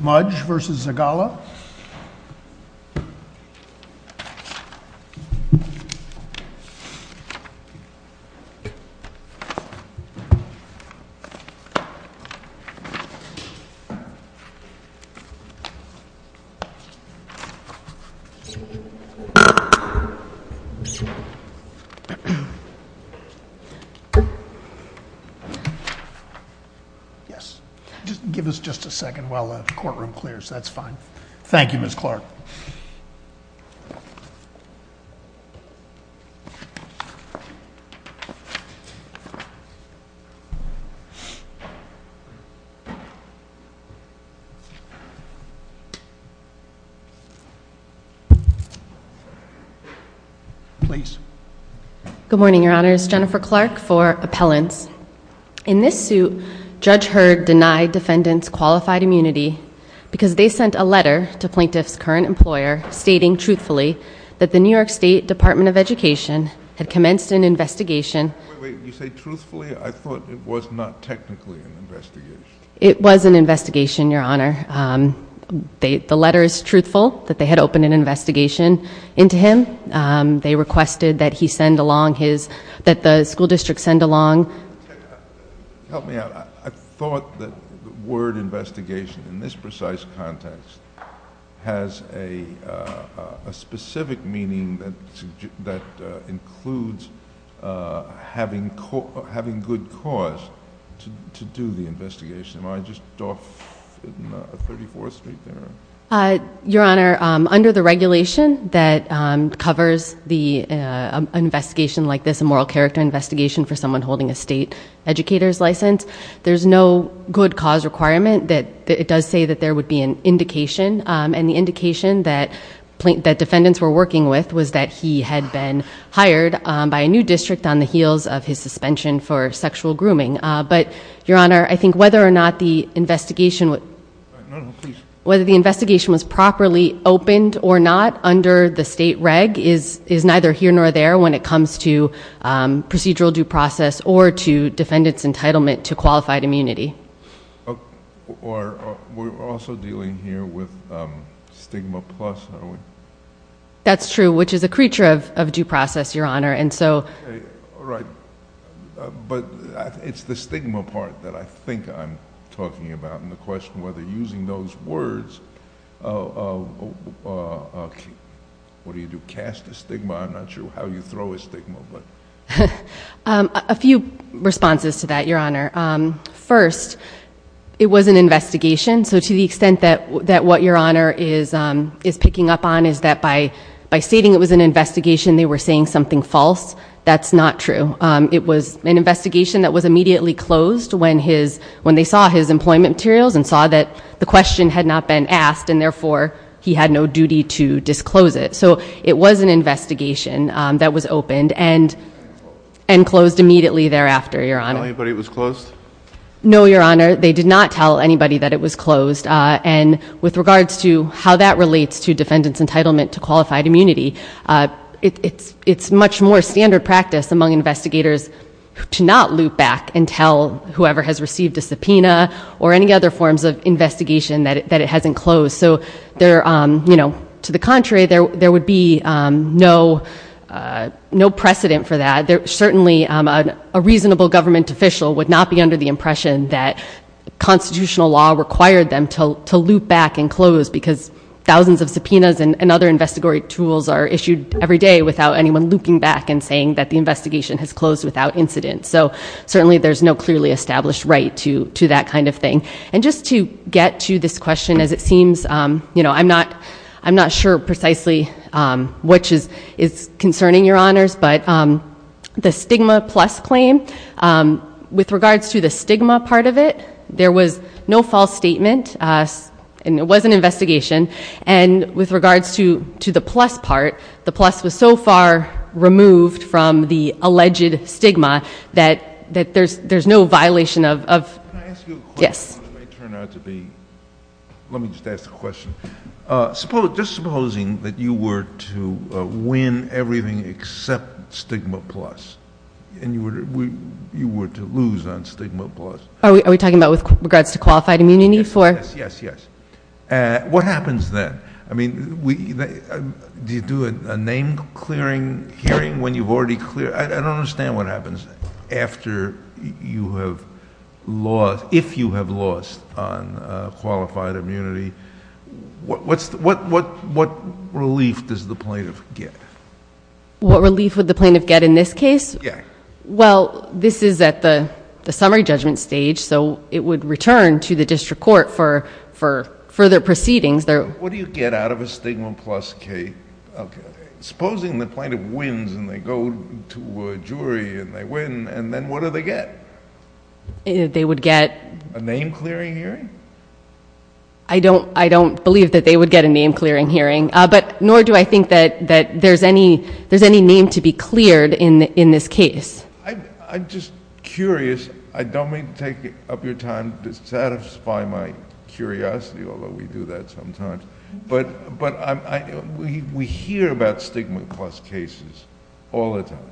Mudge v. Zugalla Yes, give us just a second while the courtroom clears. That's fine. Thank you, Ms. Clark. Please. Good morning, Your Honors. Jennifer Clark for Appellants. In this suit, Judge Heard denied defendants qualified immunity because they sent a letter to Plaintiff's current employer stating, truthfully, that the New York State Department of Education had commenced an investigation. Wait, wait. You say, truthfully? I thought it was not technically an investigation. It was an investigation, Your Honor. The letter is truthful, that they had opened an investigation into him. They requested that he send along his, that the school district send along. Help me out. I thought that the word investigation, in this precise context, has a specific meaning that includes having good cause to do the investigation. Am I just off in 34th Street there? Your Honor, under the regulation that covers an investigation like this, a moral character investigation for someone holding a state educator's license, there's no good cause requirement that, it does say that there would be an indication. And the indication that defendants were working with was that he had been hired by a new district on the heels of his suspension for sexual grooming. But Your Honor, I think whether or not the investigation, whether the investigation was properly opened or not under the state reg is neither here nor there when it comes to procedural due process or to defendant's entitlement to qualified immunity. We're also dealing here with stigma plus, are we? That's true, which is a creature of due process, Your Honor. Okay. All right. But it's the stigma part that I think I'm talking about, and the question whether using those words, what do you do, cast a stigma, I'm not sure how you throw a stigma, but. A few responses to that, Your Honor. First, it was an investigation, so to the extent that what Your Honor is picking up on is that by stating it was an investigation, they were saying something false. That's not true. It was an investigation that was immediately closed when they saw his employment materials and saw that the question had not been asked and therefore he had no duty to disclose it. So it was an investigation that was opened and closed immediately thereafter, Your Honor. Did they tell anybody it was closed? No, Your Honor. They did not tell anybody that it was closed. And with regards to how that relates to defendant's entitlement to qualified immunity, it's much more standard practice among investigators to not loop back and tell whoever has received a subpoena or any other forms of investigation that it hasn't closed. So to the contrary, there would be no precedent for that. Certainly a reasonable government official would not be under the impression that constitutional law required them to loop back and close because thousands of subpoenas and other investigatory tools are issued every day without anyone looping back and saying that the investigation has closed without incident. So certainly there's no clearly established right to that kind of thing. And just to get to this question, as it seems, I'm not sure precisely which is concerning, Your Honors, but the stigma plus claim, with regards to the stigma part of it, there was no false statement and it was an investigation. And with regards to the plus part, the plus was so far removed from the alleged stigma that there's no violation of- Can I ask you a question? Yes. Which may turn out to be, let me just ask the question. Just supposing that you were to win everything except stigma plus and you were to lose on stigma plus. Are we talking about with regards to qualified immunity? Yes. Yes. Yes. Yes. What happens then? Do you do a name clearing hearing when you've already cleared... I don't understand what happens after you have lost, if you have lost on qualified immunity. What relief does the plaintiff get? What relief would the plaintiff get in this case? Yeah. Well, this is at the summary judgment stage. So it would return to the district court for further proceedings. What do you get out of a stigma plus case? Supposing the plaintiff wins and they go to a jury and they win, and then what do they get? They would get- A name clearing hearing? I don't believe that they would get a name clearing hearing, nor do I think that there's any name to be cleared in this case. I'm just curious. I don't mean to take up your time to satisfy my curiosity, although we do that sometimes, but we hear about stigma plus cases all the time.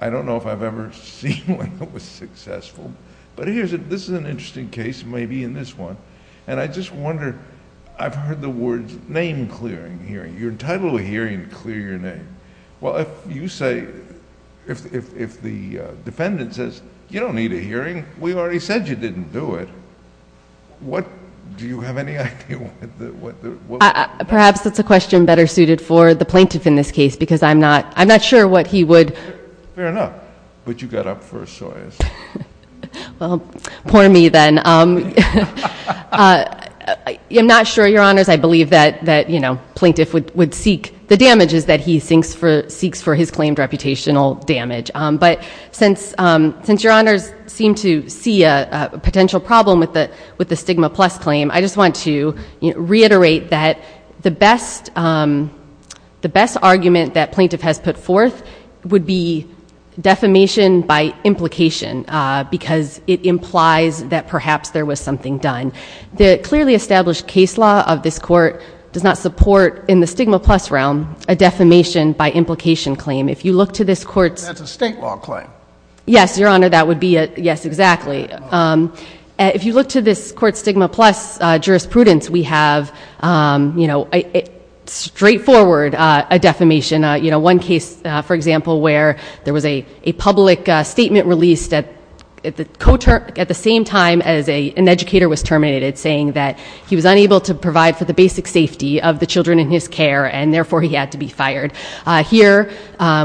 I don't know if I've ever seen one that was successful, but here's a... This is an interesting case, maybe in this one, and I just wonder, I've heard the words name clearing hearing. You're entitled to a hearing to clear your name. Well, if you say, if the defendant says, you don't need a hearing, we already said you didn't do it, do you have any idea what the... Perhaps that's a question better suited for the plaintiff in this case, because I'm not sure what he would... Fair enough, but you got up first, Soyuz. Well, poor me then. I'm not sure, Your Honors. I believe that plaintiff would seek the damages that he seeks for his claimed reputational damage, but since Your Honors seem to see a potential problem with the stigma plus claim, I just want to reiterate that the best argument that plaintiff has put forth would be defamation by implication, because it implies that perhaps there was something done. The clearly established case law of this court does not support, in the stigma plus realm, a defamation by implication claim. If you look to this court's... That's a state law claim. Yes, Your Honor, that would be a... Yes, exactly. If you look to this court's stigma plus jurisprudence, we have straightforward a defamation. One case, for example, where there was a public statement released at the same time as an indiscriminated, saying that he was unable to provide for the basic safety of the children in his care, and therefore, he had to be fired. Here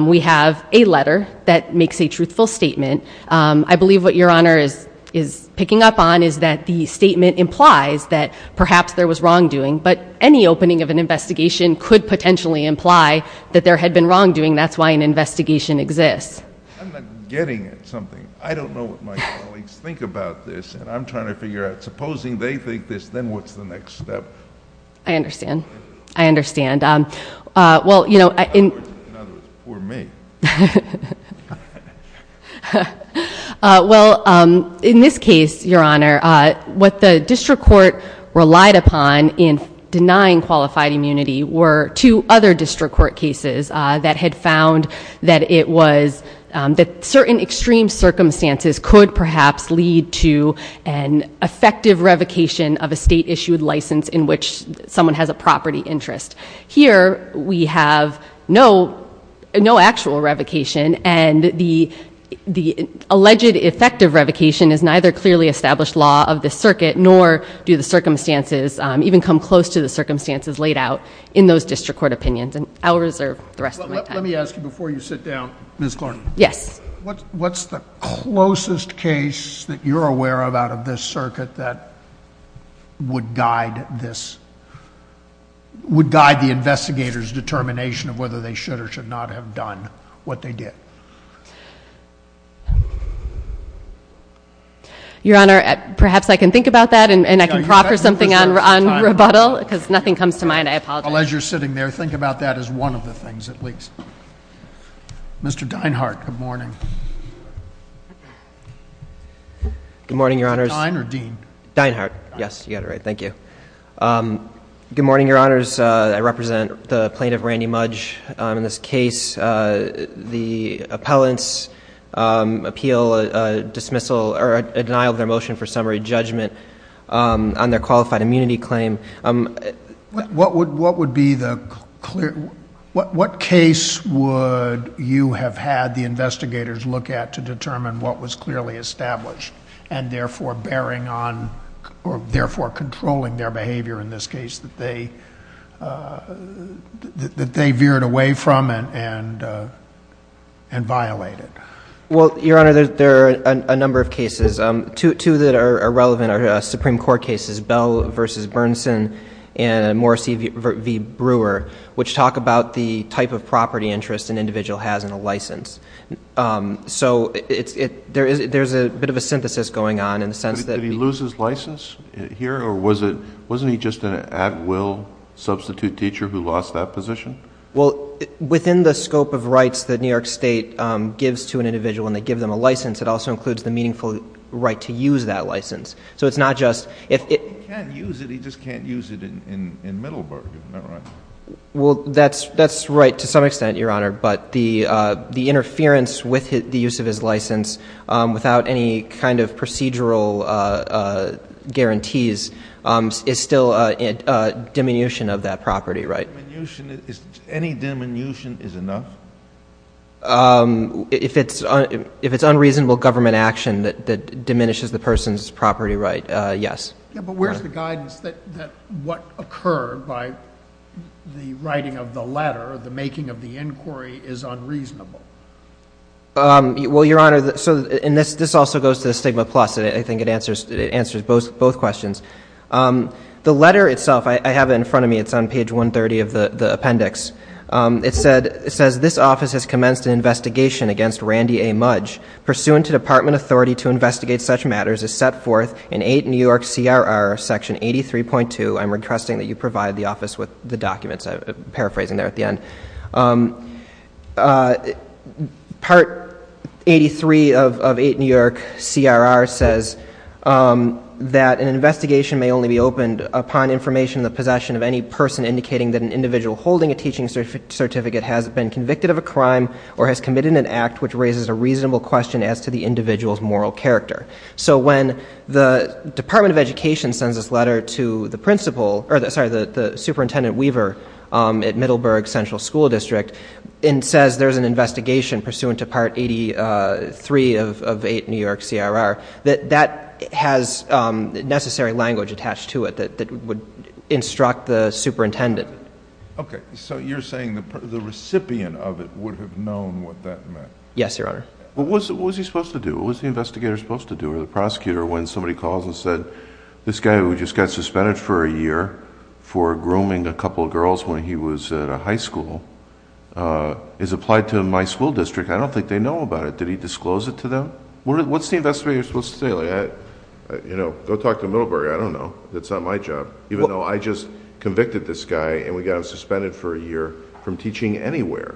we have a letter that makes a truthful statement. I believe what Your Honor is picking up on is that the statement implies that perhaps there was wrongdoing, but any opening of an investigation could potentially imply that there had been wrongdoing. That's why an investigation exists. I'm not getting at something. I don't know what my colleagues think about this, and I'm trying to figure out, supposing they think this, then what's the next step? I understand. I understand. Well, you know... In other words, poor me. Well, in this case, Your Honor, what the district court relied upon in denying qualified immunity were two other district court cases that had found that it was... that certain extreme circumstances could perhaps lead to an effective revocation of a state-issued license in which someone has a property interest. Here we have no actual revocation, and the alleged effective revocation is neither clearly established law of the circuit, nor do the circumstances even come close to the circumstances laid out in those district court opinions, and I'll reserve the rest of my time. Let me ask you, before you sit down, Ms. Clark. Yes. What's the closest case that you're aware of out of this circuit that would guide this... would guide the investigator's determination of whether they should or should not have done what they did? Your Honor, perhaps I can think about that, and I can proffer something on rebuttal, because nothing comes to mind. I apologize. Well, as you're sitting there, think about that as one of the things, at least. Mr. Deinhardt, good morning. Good morning, Your Honors. Dein or Dean? Deinhardt. Yes, you got it right. Thank you. Good morning, Your Honors. I represent the plaintiff, Randy Mudge. In this case, the appellants appeal a dismissal... or a denial of their motion for summary judgment on their qualified immunity claim. What would be the clear... what case would you have had the investigators look at to determine what was clearly established, and therefore bearing on... or therefore controlling their behavior in this case that they veered away from and violated? Well, Your Honor, there are a number of cases. Two that are relevant are Supreme Court cases, Bell v. Bernsen and Morrissey v. Brewer, which talk about the type of property interest an individual has in a license. So there's a bit of a synthesis going on in the sense that... Did he lose his license here, or wasn't he just an at-will substitute teacher who lost that position? Well, within the scope of rights that New York State gives to an individual when they have the right to use that license. So it's not just... Well, he can't use it. He just can't use it in Middleburg, if I'm not wrong. Well, that's right to some extent, Your Honor. But the interference with the use of his license without any kind of procedural guarantees is still a diminution of that property, right? Any diminution is enough? If it's unreasonable government action that diminishes the person's property right, yes. Yeah, but where's the guidance that what occurred by the writing of the letter, the making of the inquiry, is unreasonable? Well, Your Honor, and this also goes to the stigma plus. I think it answers both questions. The letter itself, I have it in front of me. It's on page 130 of the appendix. It says, This office has commenced an investigation against Randy A. Mudge. Pursuant to department authority to investigate such matters, as set forth in 8 New York C.R.R. section 83.2... I'm requesting that you provide the office with the documents. I'm paraphrasing there at the end. Part 83 of 8 New York C.R.R. says that an investigation may only be opened upon information in the possession of any person indicating that an individual holding a teaching certificate has been convicted of a crime or has committed an act which raises a reasonable question as to the individual's moral character. So when the Department of Education sends this letter to the principal, or sorry, the Superintendent Weaver at Middleburg Central School District, and says there's an investigation pursuant to Part 83 of 8 New York C.R.R., that has necessary language attached to it that would instruct the superintendent. Okay. So you're saying the recipient of it would have known what that meant? Yes, Your Honor. What was he supposed to do? What was the investigator supposed to do, or the prosecutor, when somebody calls and said, This guy who just got suspended for a year for grooming a couple of girls when he was at a high school is applied to my school district. I don't think they know about it. Did he disclose it to them? What's the investigator supposed to say? Go talk to Middleburg. I don't know. It's not my job. Even though I just convicted this guy, and we got him suspended for a year from teaching anywhere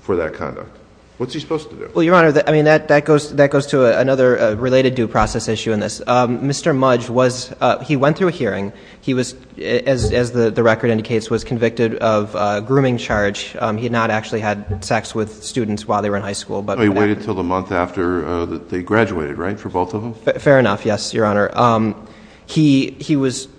for that conduct. What's he supposed to do? Well, Your Honor, that goes to another related due process issue in this. Mr. Mudge, he went through a hearing. He was, as the record indicates, was convicted of a grooming charge. He had not actually had sex with students while they were in high school. He waited until the month after they graduated, right, for both of them? Fair enough, yes, Your Honor. He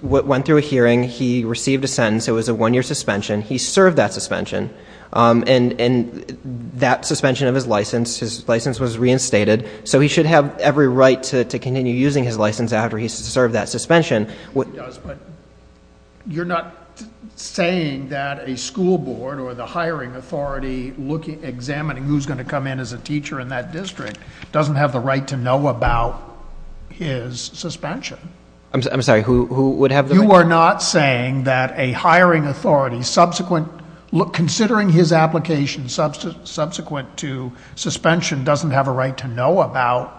went through a hearing. He received a sentence. It was a one-year suspension. He served that suspension. And that suspension of his license, his license was reinstated, so he should have every right to continue using his license after he's served that suspension. He does, but you're not saying that a school board or the hiring authority examining who's going to come in as a teacher in that district doesn't have the right to know about his suspension? I'm sorry, who would have the right? You are not saying that a hiring authority subsequent... considering his application subsequent to suspension doesn't have a right to know about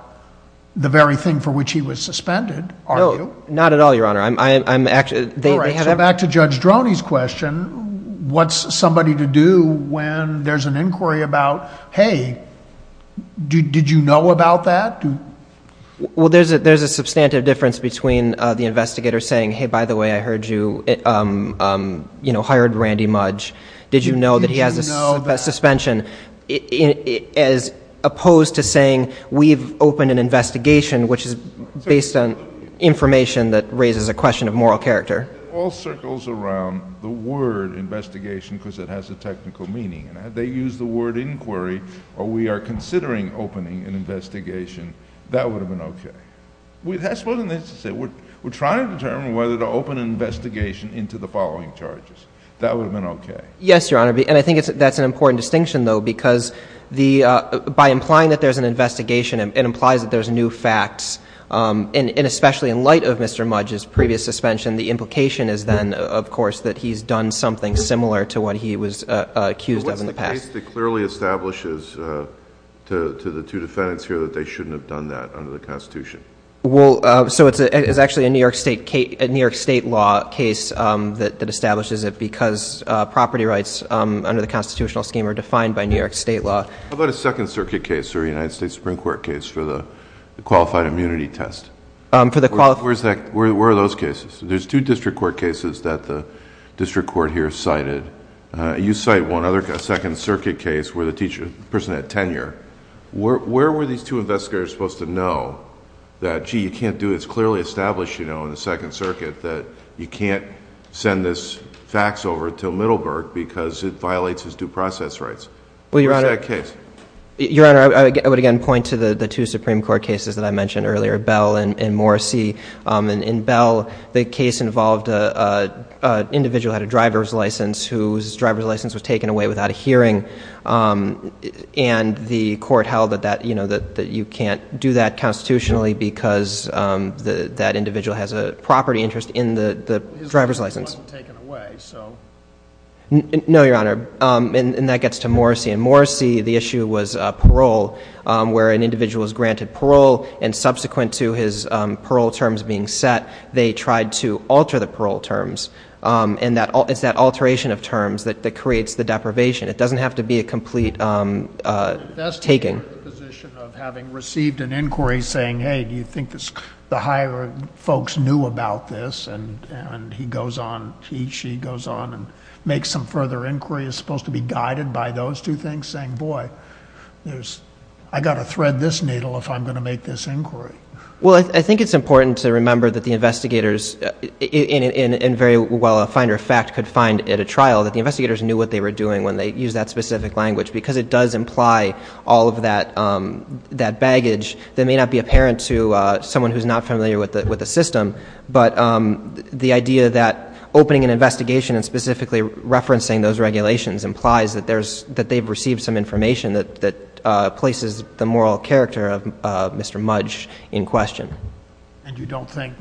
the very thing for which he was suspended, are you? No, not at all, Your Honor. All right, so back to Judge Droney's question, what's somebody to do when there's an inquiry about, hey, did you know about that? Well, there's a substantive difference between the investigator saying, hey, by the way, I heard you hired Randy Mudge. Did you know that he has a suspension, as opposed to saying, we've opened an investigation, which is based on information that raises a question of moral character? It all circles around the word investigation because it has a technical meaning, and had they used the word inquiry or we are considering opening an investigation, that would have been okay. We're trying to determine whether to open an investigation into the following charges. That would have been okay. Yes, Your Honor, and I think that's an important distinction, though, because by implying that there's an investigation, it implies that there's new facts, and especially in light of Mr. Mudge's previous suspension, the implication is then, of course, that he's done something similar to what he was accused of in the past. What's the case that clearly establishes to the two defendants here that they shouldn't have done that under the Constitution? Well, so it's actually a New York State law case that establishes it under the constitutional scheme or defined by New York State law. How about a Second Circuit case or a United States Supreme Court case for the qualified immunity test? Where are those cases? There's two district court cases that the district court here cited. You cite one, a Second Circuit case where the person had tenure. Where were these two investigators supposed to know that, gee, you can't do it? It's clearly established in the Second Circuit that you can't send this fax over to Middleburg because it violates his due process rights. Where is that case? Your Honor, I would again point to the two Supreme Court cases that I mentioned earlier, Bell and Morrissey. In Bell, the case involved an individual who had a driver's license whose driver's license was taken away without a hearing, and the court held that you can't do that constitutionally because that individual has a property interest in the driver's license. No, Your Honor, and that gets to Morrissey. In Morrissey, the issue was parole, where an individual is granted parole, and subsequent to his parole terms being set, they tried to alter the parole terms. And it's that alteration of terms that creates the deprivation. It doesn't have to be a complete taking. That's the position of having received an inquiry saying, hey, do you think the higher folks knew about this? And he goes on, she goes on and makes some further inquiry, is supposed to be guided by those two things, saying, boy, I've got to thread this needle if I'm going to make this inquiry. Well, I think it's important to remember that the investigators in very well a finder of fact could find at a trial that the investigators knew what they were doing when they used that specific language because it does imply all of that baggage that may not be apparent to someone who's not familiar with the system. But the idea that opening an investigation and specifically referencing those regulations implies that they've received some information that places the moral character of Mr. Mudge in question. And you don't think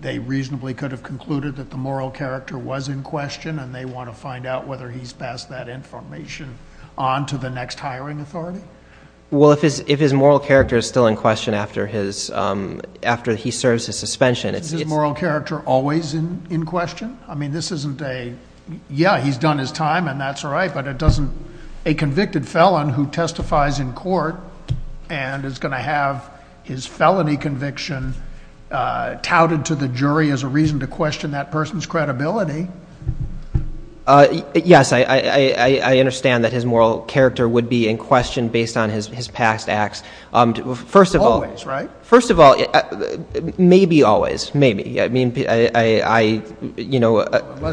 they reasonably could have concluded that the moral character was in question and they want to find out whether he's passed that information on to the next hiring authority? Well, if his moral character is still in question after he serves his suspension. Is his moral character always in question? I mean, this isn't a, yeah, he's done his time and that's all right, but a convicted felon who testifies in court and is going to have his felony conviction touted to the jury as a reason to question that person's credibility. Yes, I understand that his moral character would be in question based on his past acts. Always, right? First of all, maybe always, maybe. Unless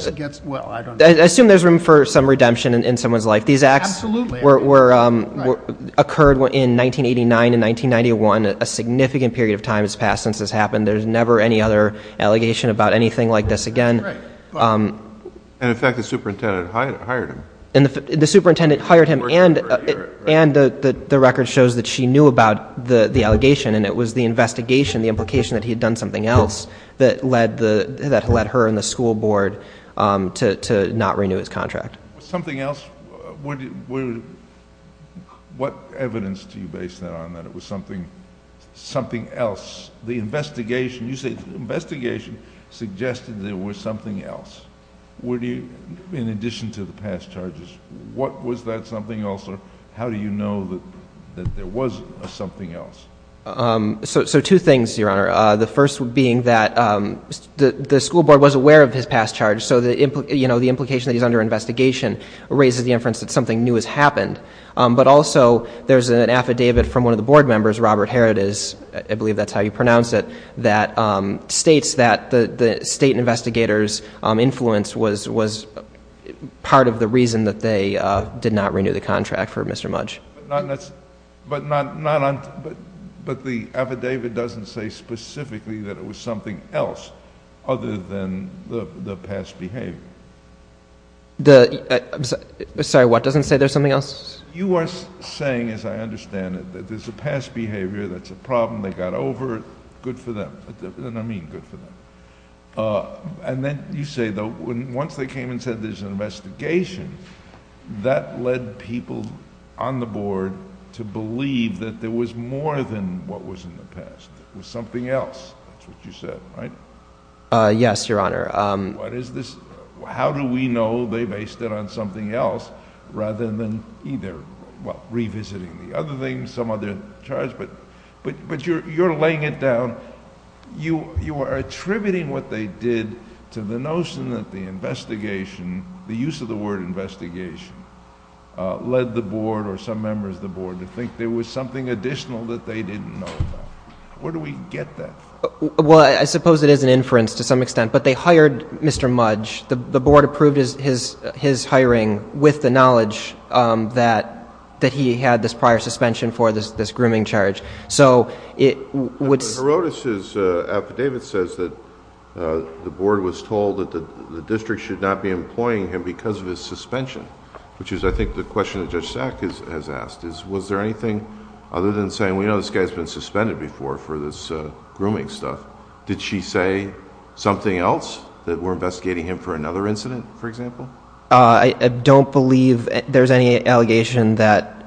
it gets, well, I don't know. I assume there's room for some redemption in someone's life. Absolutely. These acts occurred in 1989 and 1991, a significant period of time has passed since this happened. There's never any other allegation about anything like this again. Right. And, in fact, the superintendent hired him. The superintendent hired him and the record shows that she knew about the allegation and it was the investigation, the implication that he had done something else that led her and the school board to not renew his contract. Something else, what evidence do you base that on, that it was something else? The investigation, you say the investigation suggested there was something else. Would you, in addition to the past charges, what was that something else or how do you know that there was something else? So two things, Your Honor. The first being that the school board was aware of his past charge, so the implication that he's under investigation raises the inference that something new has happened. But also there's an affidavit from one of the board members, Robert Herod, I believe that's how you pronounce it, that states that the state investigator's influence was part of the reason that they did not renew the contract for Mr. Mudge. But the affidavit doesn't say specifically that it was something else other than the past behavior. Sorry, what doesn't say there's something else? You are saying, as I understand it, that there's a past behavior, that's a problem, they got over it, good for them. And I mean good for them. And then you say once they came and said there's an investigation, that led people on the board to believe that there was more than what was in the past. It was something else, that's what you said, right? Yes, Your Honor. How do we know they based it on something else rather than either revisiting the other things, some other charge? But you're laying it down, you are attributing what they did to the notion that the investigation, the use of the word investigation led the board or some members of the board to think there was something additional that they didn't know about. Where do we get that from? Well, I suppose it is an inference to some extent, but they hired Mr. Mudge. The board approved his hiring with the knowledge that he had this prior suspension for this grooming charge. So it would... But Herodas' affidavit says that the board was told that the district should not be employing him because of his suspension, which is I think the question that Judge Sack has asked, is was there anything other than saying, well, you know, this guy has been suspended before for this grooming stuff. Did she say something else, that we're investigating him for another incident, for example? I don't believe there's any allegation that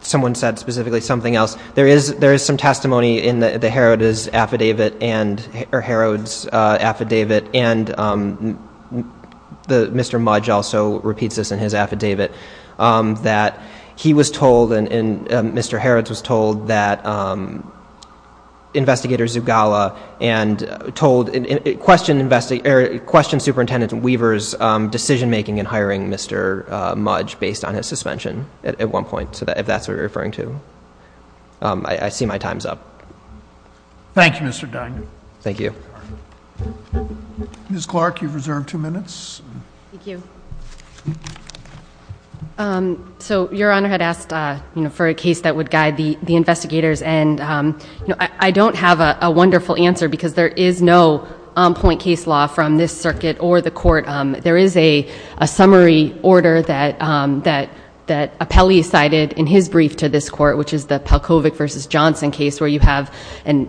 someone said specifically something else. There is some testimony in the Herodas' affidavit, or Herod's affidavit, and Mr. Mudge also repeats this in his affidavit, that he was told and Mr. Herod was told that Investigator Zugala and told, questioned Superintendent Weaver's decision making in hiring Mr. Mudge based on his suspension at one point, if that's what you're referring to. I see my time's up. Thank you, Mr. Duggan. Thank you. Ms. Clark, you've reserved two minutes. Thank you. So, Your Honor had asked for a case that would guide the investigators, and I don't have a wonderful answer because there is no on-point case law from this circuit or the court. There is a summary order that Apelli cited in his brief to this court, which is the Palkovic v. Johnson case where you have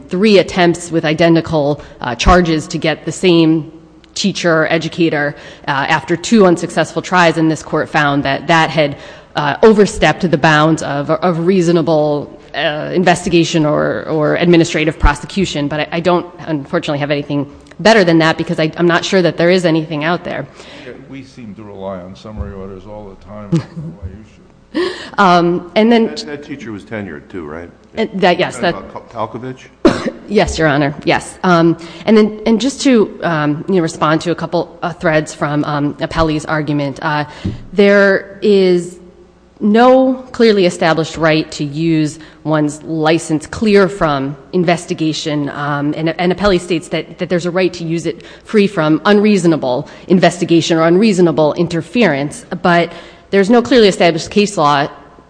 three attempts with identical charges to get the same teacher or educator after two unsuccessful tries, and this court found that that had overstepped the bounds of a reasonable investigation or administrative prosecution. But I don't, unfortunately, have anything better than that because I'm not sure that there is anything out there. We seem to rely on summary orders all the time. That teacher was tenured, too, right? Yes. Palkovic? Yes, Your Honor, yes. And just to respond to a couple of threads from Apelli's argument, there is no clearly established right to use one's license clear from investigation, and Apelli states that there's a right to use it free from unreasonable investigation or unreasonable interference, but there's no clearly established case law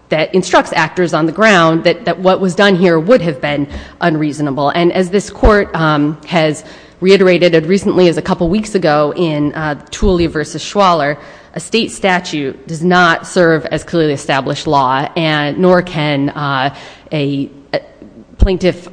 that instructs actors on the ground that what was done here would have been unreasonable. And as this court has reiterated as recently as a couple weeks ago in Tooley v. Schwaller, a state statute does not serve as clearly established law, nor can a plaintiff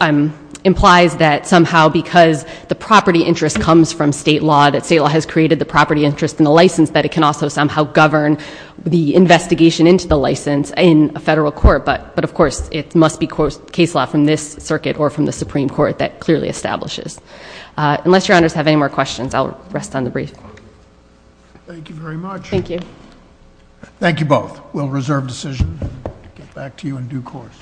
implies that somehow because the property interest comes from state law, that state law has created the property interest in the license, that it can also somehow govern the investigation into the license in a federal court. But, of course, it must be case law from this circuit or from the Supreme Court that clearly establishes. Unless Your Honors have any more questions, I'll rest on the brief. Thank you very much. Thank you. Thank you both. We'll reserve decision and get back to you in due course.